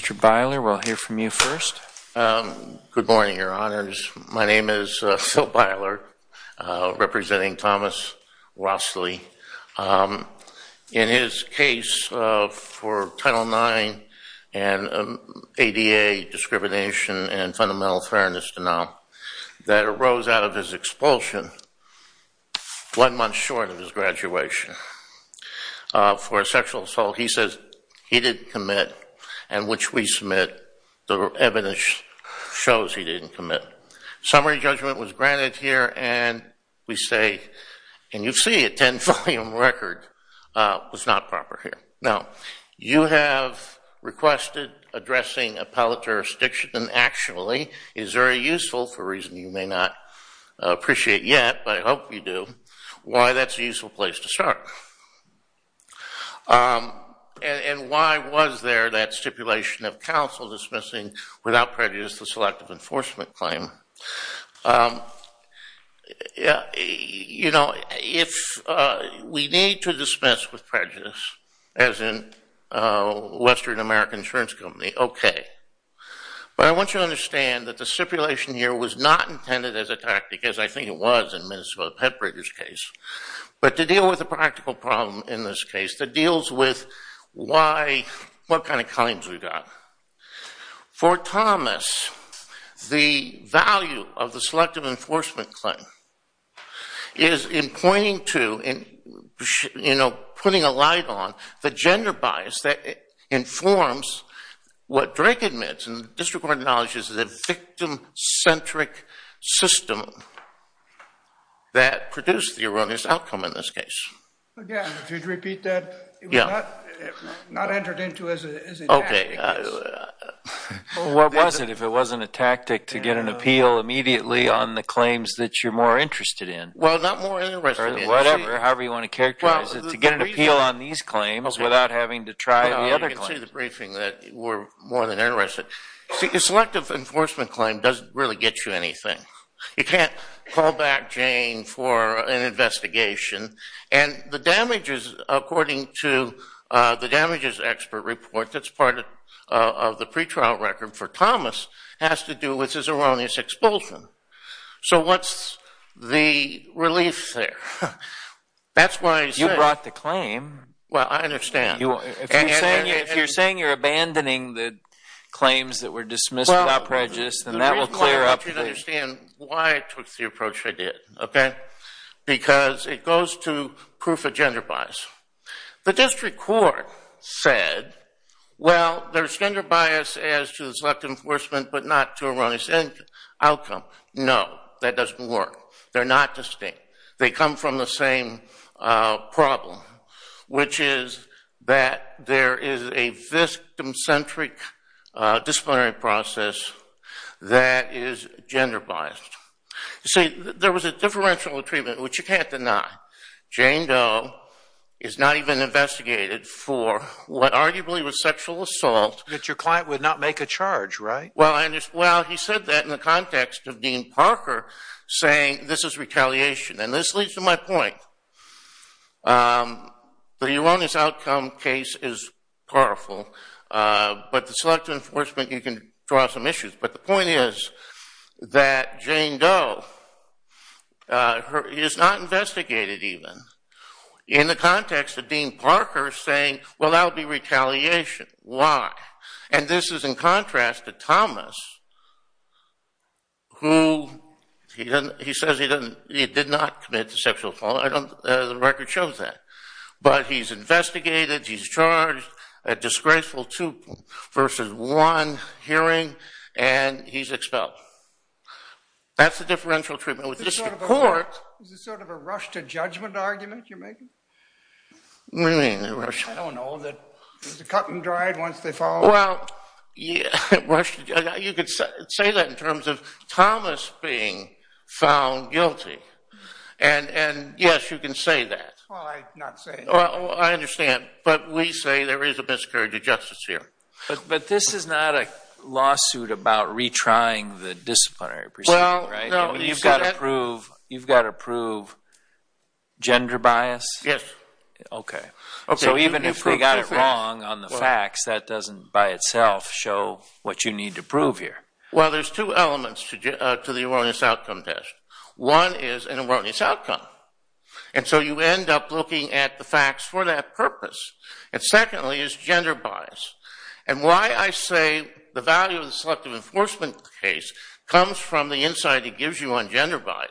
Mr. Byler, we'll hear from you first. Good morning, Your Honors. My name is Phil Byler, representing Thomas Rossley. In his case for Title IX and ADA discrimination and fundamental fairness denial that arose out of his expulsion one month short of his graduation for sexual assault, he says he did commit and which we submit the evidence shows he didn't commit. Summary judgment was granted here and we say, and you see a ten-volume record was not proper here. Now, you have requested addressing appellate jurisdiction, and actually is very useful for a reason you may not appreciate yet, but I hope you do, why that's a useful place to start. And why was there that stipulation of counsel dismissing without prejudice the selective enforcement claim? You know, if we need to dismiss with prejudice, as in Western American Insurance Company, okay. But I want you to understand that the stipulation here was not intended as a tactic as I think it was in Minnesota Pet Breeders' case, but to deal with a practical problem in this case that deals with why, what kind of claims we got. For Thomas, the value of the selective enforcement claim is in pointing to, you know, putting a light on the gender bias that informs what Drake admits and the district court acknowledges the victim-centric system that produced the erroneous outcome in this case. Again, if you'd repeat that, it was not entered into as a tactic. What was it if it wasn't a tactic to get an appeal immediately on the claims that you're more interested in? Well, not more interested in. Or whatever, however you want to characterize it, to get an appeal on these claims without having to try the other claims. Well, you can see the briefing that we're more than interested. See, a selective enforcement claim doesn't really get you anything. You can't call back Jane for an investigation and the damages according to the damages expert report that's part of the pretrial record for Thomas has to do with his erroneous expulsion. So what's the relief there? That's why I said- You brought the claim. Well, I understand. If you're saying you're abandoning the claims that were dismissed without prejudice, then that will clear up the- The reason I want you to understand why I took the approach I did, okay? Because it goes to proof of gender bias. The district court said, well, there's gender bias as to the selective enforcement, but not to erroneous outcome. No, that doesn't work. They're not distinct. They come from the same problem, which is that there is a victim-centric disciplinary process that is gender biased. You see, there was a differential treatment, which you can't deny. Jane Doe is not even investigated for what arguably was sexual assault. But your client would not make a charge, right? Well, he said that in the context of Dean Parker saying, this is retaliation. And this leads to my point. The erroneous outcome case is powerful, but the selective enforcement, you can draw some issues. But the point is that Jane Doe is not investigated even in the context of Dean Parker saying, well, that would be retaliation. Why? And this is in contrast to Thomas, who he says he did not commit sexual assault. The record shows that. But he's investigated, he's charged, a disgraceful two versus one hearing, and he's expelled. That's the differential treatment. With the district court- Is this sort of a rush to judgment argument you're making? What do you mean, a rush? I don't know. Is it cut and dried once they fall? Well, you could say that in terms of Thomas being found guilty. And yes, you can say that. Well, I'm not saying that. I understand. But we say there is a miscarriage of justice here. But this is not a lawsuit about retrying the disciplinary procedure, right? You've got to prove gender bias? Yes. Okay. So even if they got it wrong on the facts, that doesn't by itself show what you need to prove here. Well, there's two elements to the erroneous outcome test. One is an erroneous outcome. And so you end up looking at the facts for that purpose. And secondly is gender bias. And why I say the value of the selective enforcement case comes from the insight it gives you on As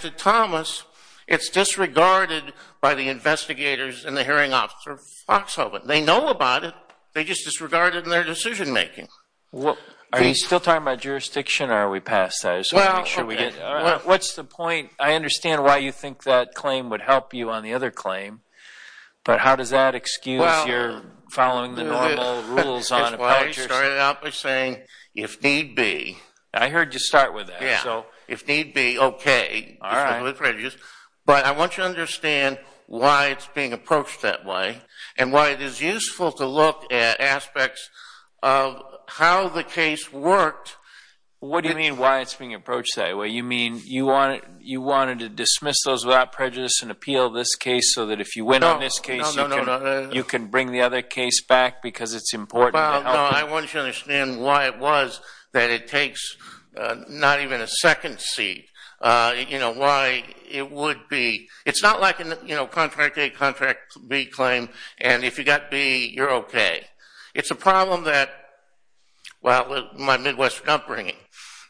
to Thomas, it's disregarded by the investigators and the hearing officer of Foxhoven. They know about it. They just disregard it in their decision-making. Are you still talking about jurisdiction or are we past that? What's the point? I understand why you think that claim would help you on the other claim. But how does that excuse your following the normal rules on a public jurisdiction? Well, I started out by saying, if need be. I heard you start with that. Yeah. So if need be, okay. All right. But I want you to understand why it's being approached that way and why it is useful to look at aspects of how the case worked. What do you mean why it's being approached that way? You mean you wanted to dismiss those without prejudice and appeal this case so that if you win on this case, you can bring the other case back because it's important? Well, no. I want you to understand why it was that it takes not even a second seat. You know, why it would be. It's not like a contract A, contract B claim, and if you got B, you're okay. It's a problem that, well, my Midwest upbringing,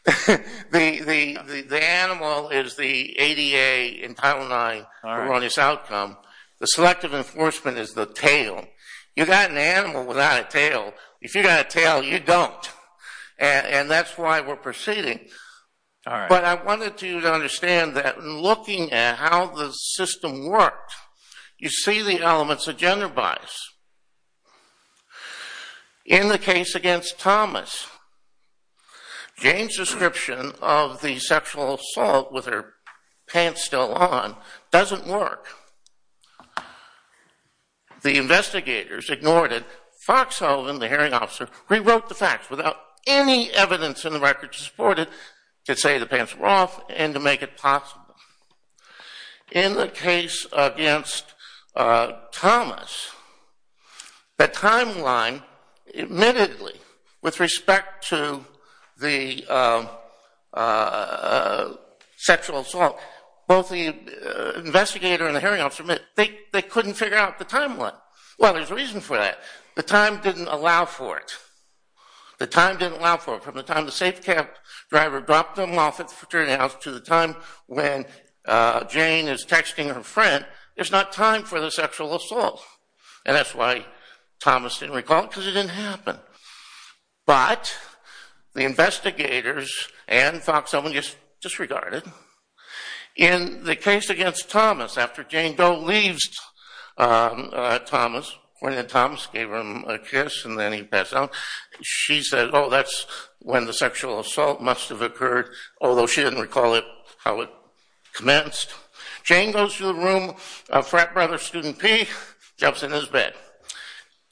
the animal is the ADA in Title IX on its outcome. The selective enforcement is the tail. You got an animal without a tail. If you got a tail, you don't. And that's why we're proceeding. But I wanted you to understand that looking at how the system worked, you see the elements of gender bias. In the case against Thomas, Jane's description of the sexual assault with her pants still on doesn't work. The investigators ignored it. Foxhoven, the hearing officer, rewrote the facts without any evidence in the records to support it, to say the pants were off, and to make it possible. In the case against Thomas, the timeline admittedly, with respect to the sexual assault, both the hearing officer and the hearing officer, they couldn't figure out the timeline. Well, there's a reason for that. The time didn't allow for it. The time didn't allow for it. From the time the safe cab driver dropped them off at the fraternity house to the time when Jane is texting her friend, there's not time for the sexual assault. And that's why Thomas didn't recall it, because it didn't happen. But the investigators and Foxhoven disregarded. In the case against Thomas, after Jane Doe leaves Thomas, when Thomas gave him a kiss and then he passed out, she said, oh, that's when the sexual assault must have occurred, although she didn't recall it, how it commenced. Jane goes to the room of frat brother student P, jumps in his bed.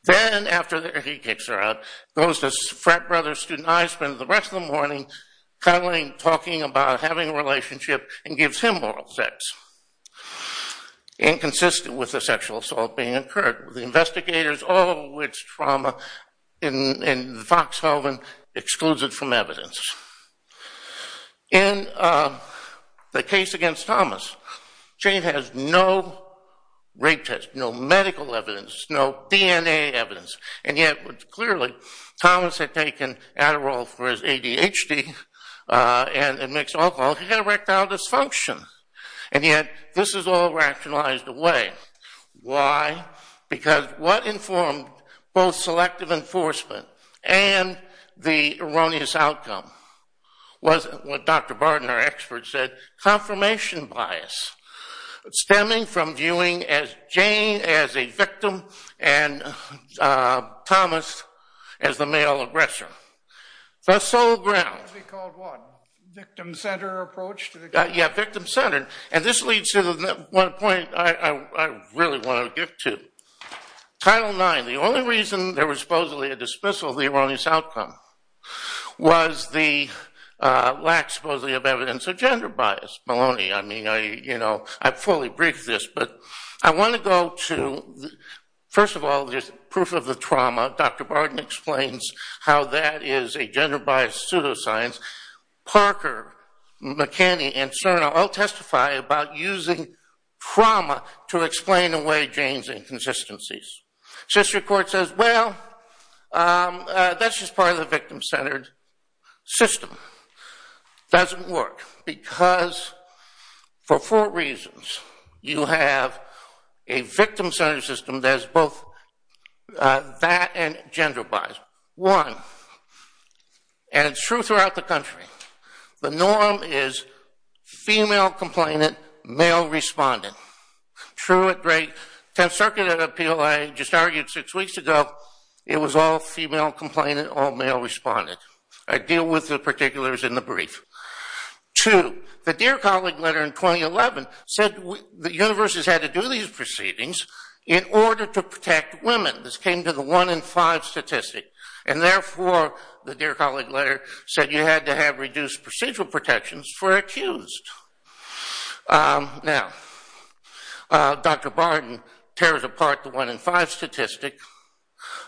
Then, after he kicks her out, goes to frat brother student I, spends the rest of the morning cuddling, talking about having a relationship, and gives him oral sex, inconsistent with the sexual assault being incurred. The investigators, oh, it's trauma, and Foxhoven excludes it from evidence. In the case against Thomas, Jane has no rape test, no medical evidence, no DNA evidence. And yet, clearly, Thomas had taken Adderall for his ADHD and mixed alcohol. He had erectile dysfunction. And yet, this is all rationalized away. Why? Because what informed both selective enforcement and the erroneous outcome was, what Dr. Bardner expert said, confirmation bias stemming from viewing Jane as a victim and Thomas as the male aggressor. The sole ground. It could be called what? Victim-centered approach to the case? Yeah, victim-centered. And this leads to one point I really want to get to. Title IX. The only reason there was supposedly a dismissal of the erroneous outcome was the lack, supposedly, of evidence of gender bias. Maloney, I mean, I fully briefed this. But I want to go to, first of all, just proof of the trauma. Dr. Bardner explains how that is a gender-biased pseudoscience. Parker, McKinney, and Cerno all testify about using trauma to explain away Jane's inconsistencies. Sister Court says, well, that's just part of the victim-centered system. Doesn't work. Because for four reasons, you have a victim-centered system that is both that and gender biased. One. And it's true throughout the country. The norm is female complainant, male respondent. True at great. Tenth Circuit appeal, I just argued six weeks ago, it was all female complainant, all male respondent. I deal with the particulars in the brief. Two. The Dear Colleague letter in 2011 said that universities had to do these proceedings in order to protect women. This came to the one in five statistic. And therefore, the Dear Colleague letter said you had to have reduced procedural protections for accused. Now, Dr. Bardner tears apart the one in five statistic.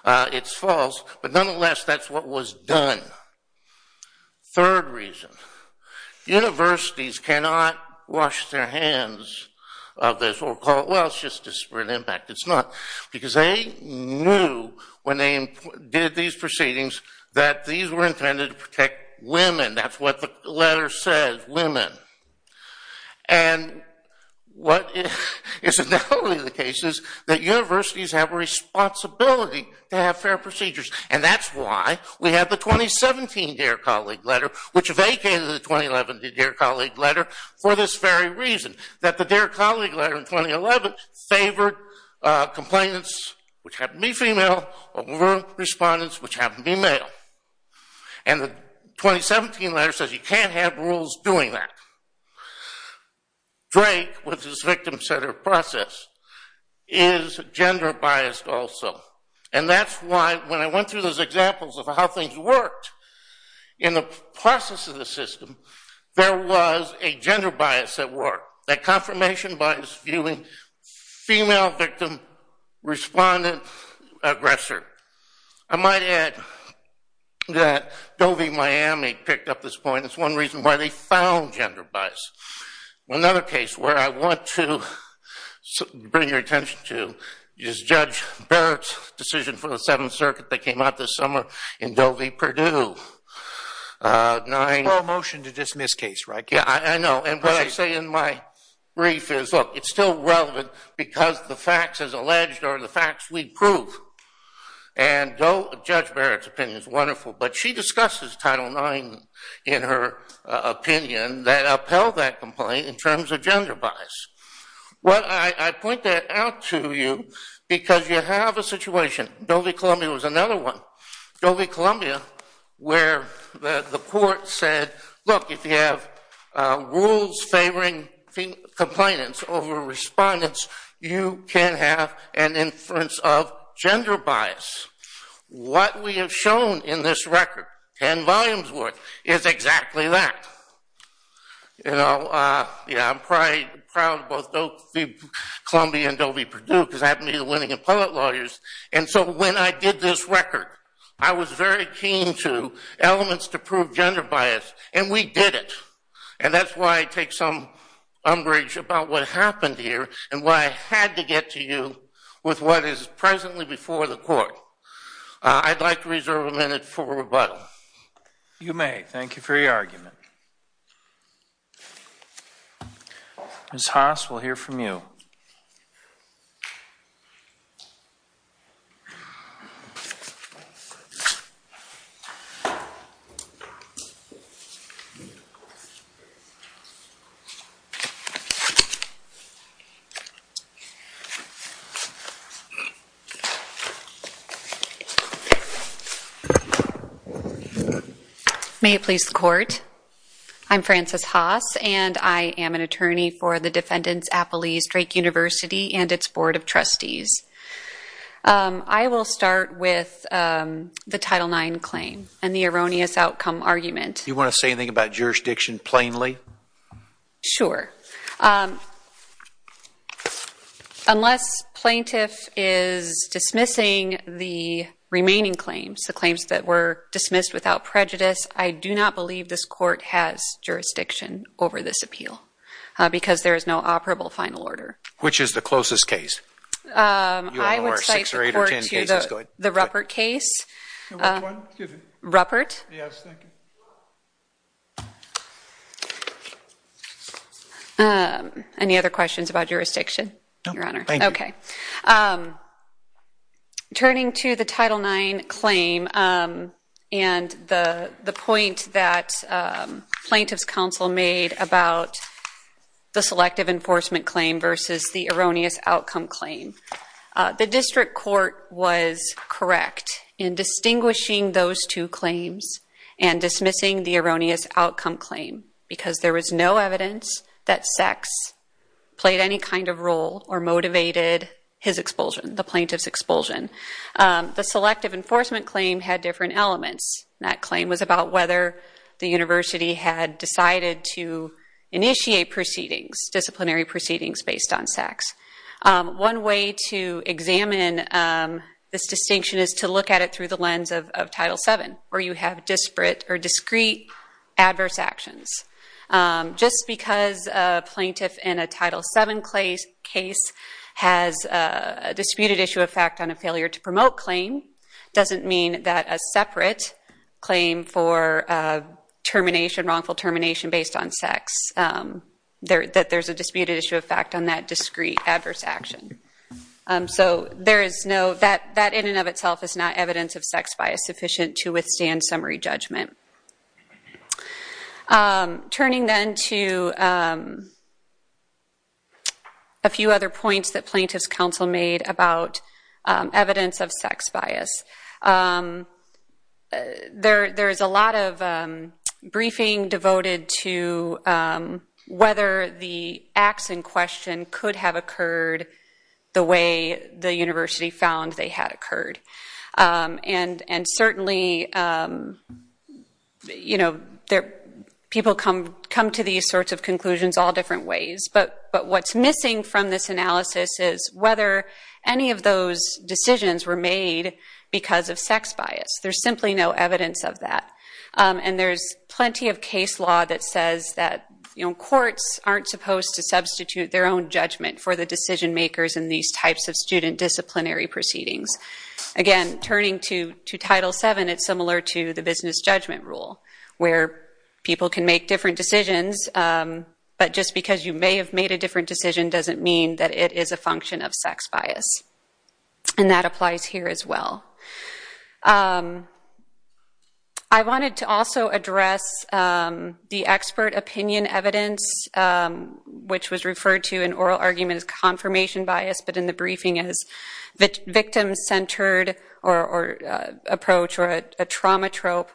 It's false. But nonetheless, that's what was done. Third reason. Universities cannot wash their hands of this or call it, well, it's just disparate impact. It's not. Because they knew when they did these proceedings that these were intended to protect women. That's what the letter said. Women. And what is totally the case is that universities have a responsibility to have fair procedures. And that's why we have the 2017 Dear Colleague letter, which vacated the 2011 Dear Colleague letter for this very reason. That the Dear Colleague letter in 2011 favored complainants, which happened to be female, over respondents, which happened to be male. And the 2017 letter says you can't have rules doing that. Drake, with his victim-centered process, is gender-biased also. And that's why when I went through those examples of how things worked in the process of the system, there was a gender bias at work. That confirmation bias viewing female victim, respondent, aggressor. I might add that Doe v. Miami picked up this point. It's one reason why they found gender bias. Another case where I want to bring your attention to is Judge Barrett's decision for the Seventh Circuit that came out this summer in Doe v. Purdue. A motion to dismiss case, right? Yeah, I know. And what I say in my brief is, look, it's still relevant because the facts as alleged are the facts we prove. And Judge Barrett's opinion is wonderful. But she discusses Title IX in her opinion that upheld that complaint in terms of gender bias. Well, I point that out to you because you have a situation. Doe v. Columbia was another one. Doe v. Columbia where the court said, look, if you have rules favoring complainants over respondents, you can have an inference of gender bias. What we have shown in this record, ten volumes worth, is exactly that. You know, yeah, I'm probably proud of both Doe v. Columbia and Doe v. Purdue because I happen to be the winning appellate lawyers. And so when I did this record, I was very keen to elements to prove gender bias. And we did it. And that's why I take some umbrage about what happened here and why I had to get to you with what is presently before the court. I'd like to reserve a minute for rebuttal. You may. Thank you for your argument. Ms. Haas, we'll hear from you. Thank you. May it please the court. I'm Frances Haas, and I am an attorney for the defendants' appellees, Drake University and its board of trustees. I will start with the Title IX claim and the erroneous outcome argument. Do you want to say anything about jurisdiction plainly? Sure. Unless plaintiff is dismissing the remaining claims, the claims that were dismissed without prejudice, I do not believe this court has jurisdiction over this appeal because there is no operable final order. Which is the closest case? I would cite the court to the Ruppert case. Which one? Ruppert. Yes, thank you. Any other questions about jurisdiction, Your Honor? No, thank you. Okay. Turning to the Title IX claim and the point that plaintiff's counsel made about the selective enforcement claim versus the erroneous outcome claim, the district court was correct in distinguishing those two claims and dismissing the erroneous outcome claim because there was no evidence that sex played any kind of role or motivated his expulsion, the plaintiff's expulsion. The selective enforcement claim had different elements. That claim was about whether the university had decided to initiate proceedings, disciplinary proceedings based on sex. One way to examine this distinction is to look at it through the lens of Title VII where you have disparate or discrete adverse actions. Just because a plaintiff in a Title VII case has a disputed issue of fact on a failure to promote claim doesn't mean that a separate claim for termination, wrongful termination based on sex, that there's a disputed issue of fact on that discrete adverse action. So that in and of itself is not evidence of sex bias sufficient to withstand summary judgment. Turning then to a few other points that plaintiff's counsel made about evidence of sex bias, there is a lot of briefing devoted to whether the acts in question could have occurred the way the university found they had occurred. And certainly people come to these sorts of conclusions all different ways. But what's missing from this analysis is whether any of those decisions were made because of sex bias. There's simply no evidence of that. And there's plenty of case law that says that courts aren't supposed to substitute their own judgment for the decision makers in these types of student disciplinary proceedings. Again, turning to Title VII, it's similar to the business judgment rule where people can make different decisions. But just because you may have made a different decision doesn't mean that it is a function of sex bias. And that applies here as well. I wanted to also address the expert opinion evidence, which was referred to in oral arguments as confirmation bias, but in the briefing as victim-centered approach or a trauma trope.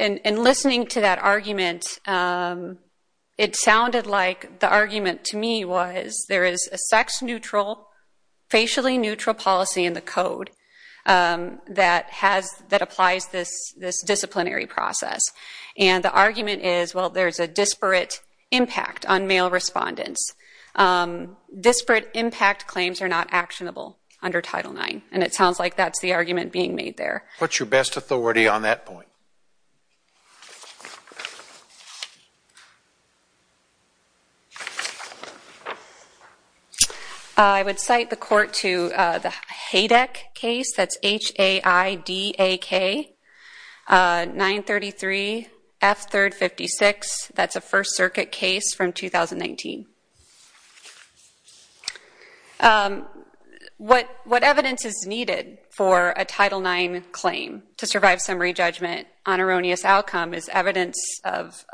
In listening to that argument, it sounded like the argument to me was there is a sex-neutral, facially-neutral policy in the Code that applies this disciplinary process. And the argument is, well, there's a disparate impact on male respondents. Disparate impact claims are not actionable under Title IX. And it sounds like that's the argument being made there. What's your best authority on that point? I would cite the court to the HADAC case. That's H-A-I-D-A-K-933-F-3-56. That's a First Circuit case from 2019. What evidence is needed for a Title IX claim to survive summary judgment on erroneous outcome is evidence of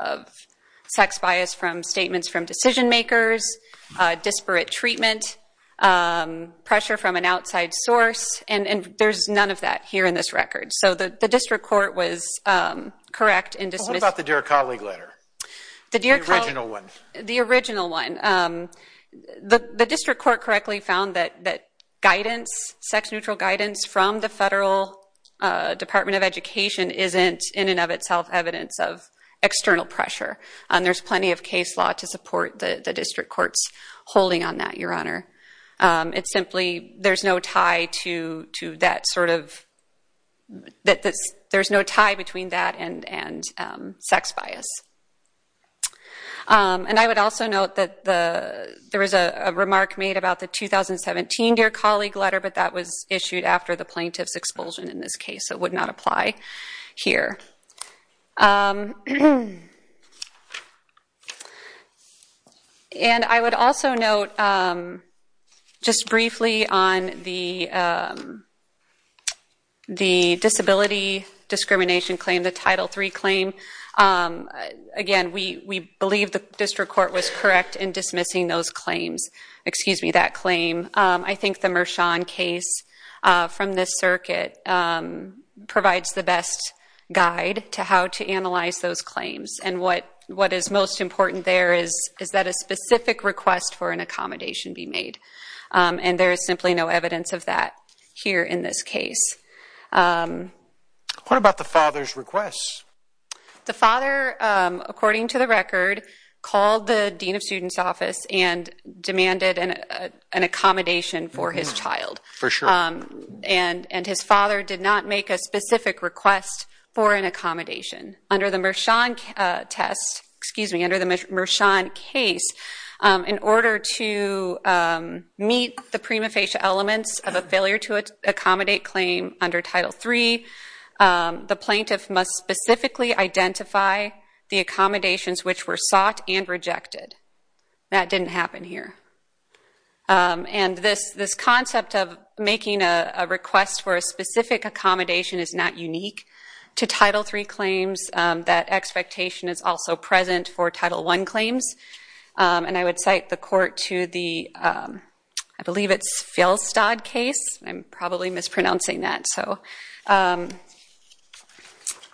sex bias from statements from decision makers, disparate treatment, pressure from an outside source, and there's none of that here in this record. So the district court was correct in dismissing... What about the Dear Colleague letter? The Dear Colleague... The original one. The original one. The district court correctly found that guidance, sex-neutral guidance from the Federal Department of Education isn't in and of itself evidence of external pressure. And there's plenty of case law to support the district court's holding on that, Your Honor. It's simply there's no tie to that sort of... There's no tie between that and sex bias. And I would also note that there was a remark made about the 2017 Dear Colleague letter, but that was issued after the plaintiff's expulsion in this case. It would not apply here. And I would also note just briefly on the disability discrimination claim, the Title III claim. Again, we believe the district court was correct in dismissing those claims. Excuse me, that claim. I think the Mershon case from this circuit provides the best guide to how to analyze those claims. And what is most important there is that a specific request for an accommodation be made. And there is simply no evidence of that here in this case. What about the father's request? The father, according to the record, called the Dean of Students Office and demanded an accommodation for his child. For sure. And his father did not make a specific request for an accommodation. Under the Mershon test, excuse me, under the Mershon case, in order to meet the prima facie elements of a failure to accommodate claim under Title III, the plaintiff must specifically identify the accommodations which were sought and rejected. That didn't happen here. And this concept of making a request for a specific accommodation is not unique to Title III claims. That expectation is also present for Title I claims. And I would cite the court to the, I believe it's Fjellstad case. I'm probably mispronouncing that.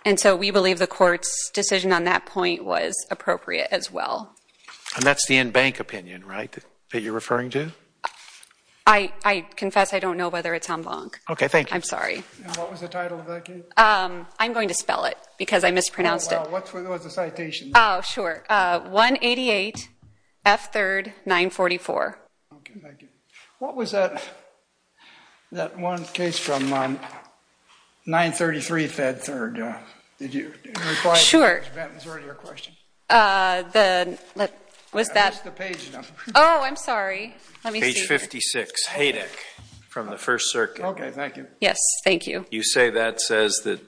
And so we believe the court's decision on that point was appropriate as well. And that's the in-bank opinion, right, that you're referring to? I confess I don't know whether it's en banc. Okay, thank you. I'm sorry. And what was the title of that case? I'm going to spell it because I mispronounced it. Oh, well, what was the citation? Oh, sure. 188 F3rd 944. Okay, thank you. What was that one case from 933 F3rd? Did you require Mr. Benton's earlier question? Sure. Was that? I missed the page number. Oh, I'm sorry. Let me see. Page 56, Haydick from the First Circuit. Okay, thank you. Yes, thank you. You say that says that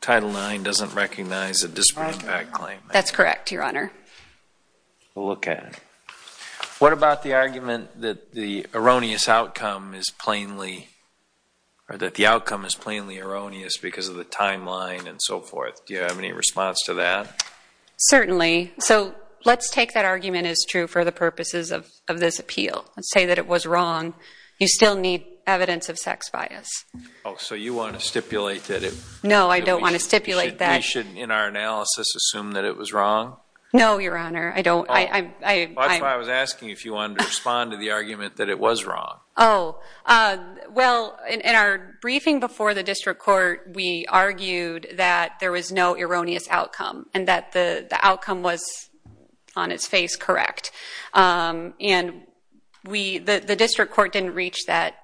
Title IX doesn't recognize a disparate impact claim. That's correct, Your Honor. We'll look at it. What about the argument that the erroneous outcome is plainly erroneous because of the timeline and so forth? Do you have any response to that? Certainly. So let's take that argument is true for the purposes of this appeal and say that it was wrong. You still need evidence of sex bias. Oh, so you want to stipulate that it? No, I don't want to stipulate that. We shouldn't, in our analysis, assume that it was wrong? No, Your Honor. That's why I was asking if you wanted to respond to the argument that it was wrong. Oh, well, in our briefing before the district court, we argued that there was no erroneous outcome and that the outcome was, on its face, correct. And the district court didn't reach that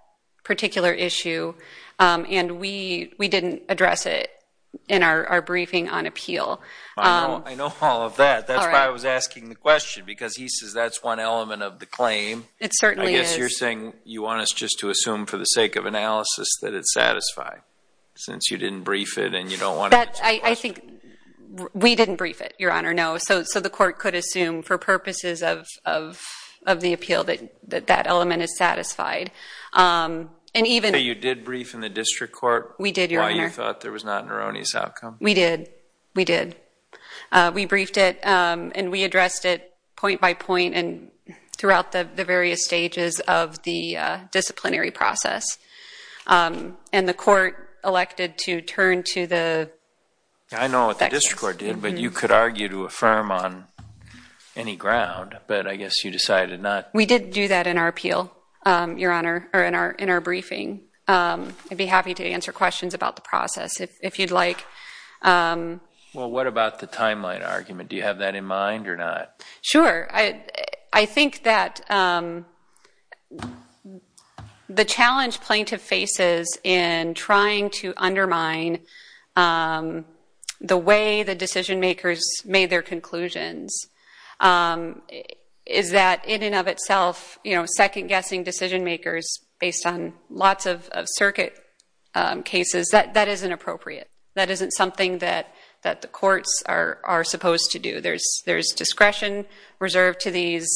particular issue, and we didn't address it in our briefing on appeal. I know all of that. That's why I was asking the question, because he says that's one element of the claim. It certainly is. I guess you're saying you want us just to assume for the sake of analysis that it's satisfied, since you didn't brief it and you don't want to answer the question? We didn't brief it, Your Honor, no. So the court could assume for purposes of the appeal that that element is satisfied. So you did brief in the district court why you thought there was not an erroneous outcome? We did. We did. We briefed it, and we addressed it point by point and throughout the various stages of the disciplinary process. And the court elected to turn to the- I know what the district court did, but you could argue to affirm on any ground. But I guess you decided not- We did do that in our appeal, Your Honor, or in our briefing. I'd be happy to answer questions about the process if you'd like. Well, what about the timeline argument? Do you have that in mind or not? Sure. I think that the challenge plaintiff faces in trying to undermine the way the decision-makers made their conclusions is that in and of itself, second-guessing decision-makers based on lots of circuit cases, that isn't appropriate. That isn't something that the courts are supposed to do. There's discretion reserved to these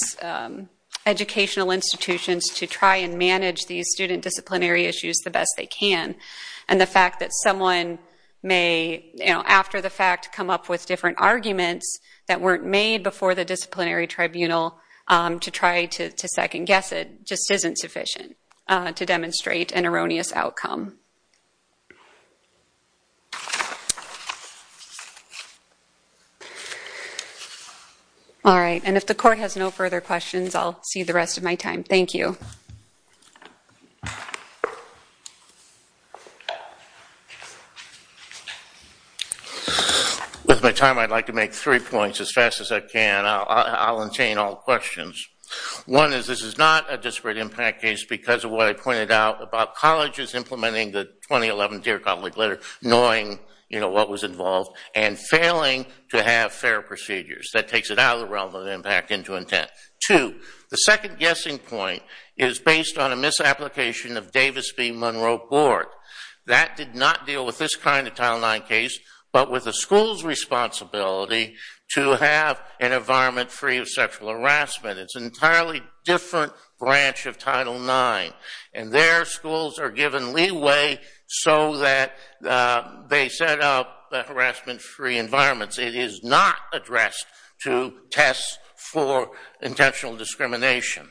educational institutions to try and manage these student disciplinary issues the best they can. And the fact that someone may, after the fact, come up with different arguments that weren't made before the disciplinary tribunal to try to second-guess it just isn't sufficient to demonstrate an erroneous outcome. All right. And if the court has no further questions, I'll see the rest of my time. Thank you. With my time, I'd like to make three points as fast as I can. I'll obtain all questions. One is this is not a disparate impact case because of what I pointed out about colleges implementing the 2011 Dear Collin Lickletter, knowing what was involved, and failing to have fair procedures. That takes it out of the realm of impact into intent. Two, the second-guessing point is based on a misapplication of Davis v. Monroe Court. That did not deal with this kind of Title IX case, but with the school's responsibility to have an environment free of sexual harassment. It's an entirely different branch of Title IX, and their schools are given leeway so that they set up harassment-free environments. It is not addressed to test for intentional discrimination.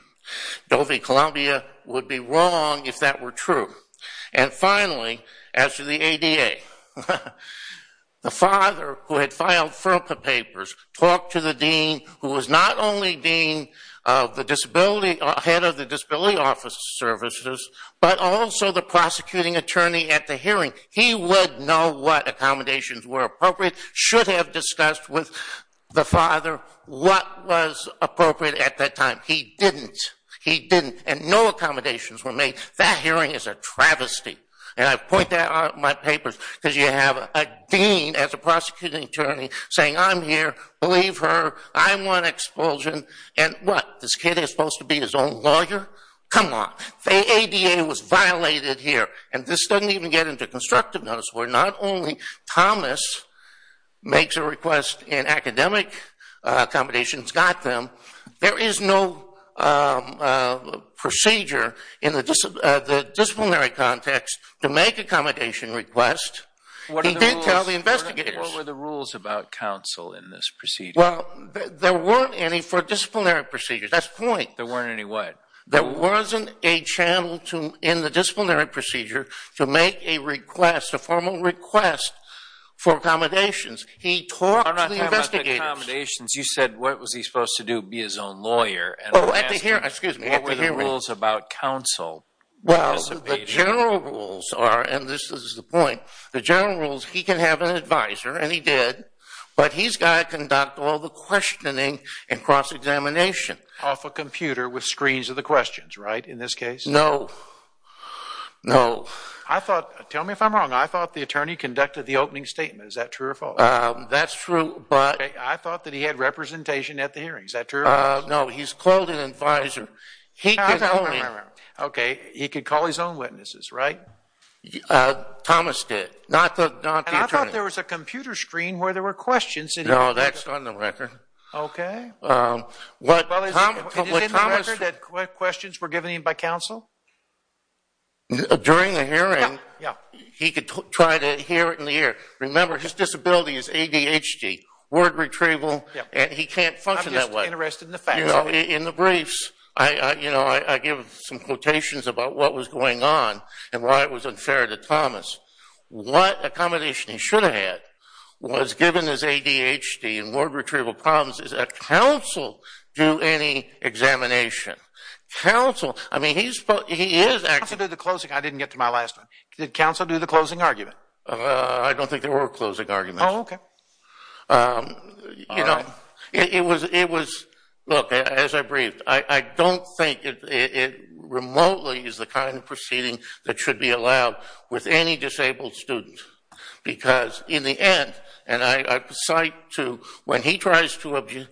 Dovey Columbia would be wrong if that were true. And finally, as to the ADA, the father who had filed FERPA papers talked to the dean who was not only the head of the disability office services, but also the prosecuting attorney at the hearing. He would know what accommodations were appropriate, should have discussed with the father what was appropriate at that time. He didn't. He didn't. And no accommodations were made. That hearing is a travesty. And I point that out in my papers because you have a dean as a prosecuting attorney saying, I'm here, believe her, I want expulsion. And what, this kid is supposed to be his own lawyer? Come on. The ADA was violated here. And this doesn't even get into constructive notice where not only Thomas makes a request in academic accommodations, got them, there is no procedure in the disciplinary context to make accommodation requests. He did tell the investigators. What were the rules about counsel in this procedure? Well, there weren't any for disciplinary procedures. That's the point. There weren't any what? There wasn't a channel in the disciplinary procedure to make a request, a formal request for accommodations. He talked to the investigators. I'm not talking about the accommodations. You said what was he supposed to do, be his own lawyer? Oh, at the hearing. Excuse me. What were the rules about counsel? Well, the general rules are, and this is the point. The general rules, he can have an advisor, and he did, but he's got to conduct all the questioning and cross-examination. Off a computer with screens of the questions, right, in this case? No. No. I thought, tell me if I'm wrong, I thought the attorney conducted the opening statement. Is that true or false? That's true, but. I thought that he had representation at the hearing. Is that true or false? No, he's called an advisor. Now tell me. Okay, he could call his own witnesses, right? Thomas did, not the attorney. And I thought there was a computer screen where there were questions. No, that's on the record. Okay. Is it on the record that questions were given by counsel? During the hearing, he could try to hear it in the ear. Remember, his disability is ADHD, word retrieval, and he can't function that way. I'm just interested in the facts. In the briefs, I give some quotations about what was going on and why it was unfair to Thomas. What accommodation he should have had was given his ADHD and word retrieval problems. Did counsel do any examination? Counsel, I mean, he is actually. Counsel did the closing. I didn't get to my last one. I don't think there were closing arguments. Oh, okay. You know, it was. Look, as I briefed, I don't think it remotely is the kind of proceeding that should be allowed with any disabled student because in the end, and I cite to when he tries to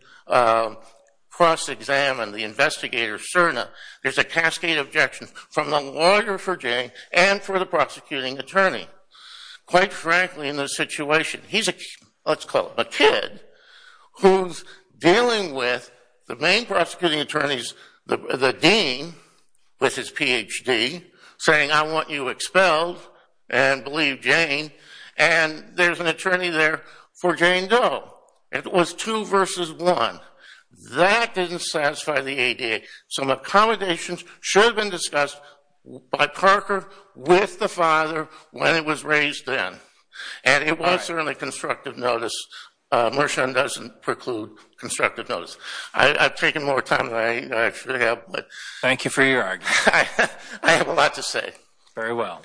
cross-examine the investigator, Cerna, there's a cascade of objections from the lawyer for Jane and for the prosecuting attorney. Quite frankly, in this situation, he's a, let's call him a kid, who's dealing with the main prosecuting attorneys, the dean with his PhD, saying I want you expelled and believe Jane, and there's an attorney there for Jane Doe. It was two versus one. That didn't satisfy the ADA. Some accommodations should have been discussed by Parker with the father when it was raised then, and it was certainly constructive notice. Mershon doesn't preclude constructive notice. I've taken more time than I should have. Thank you for your argument. I have a lot to say. Very well.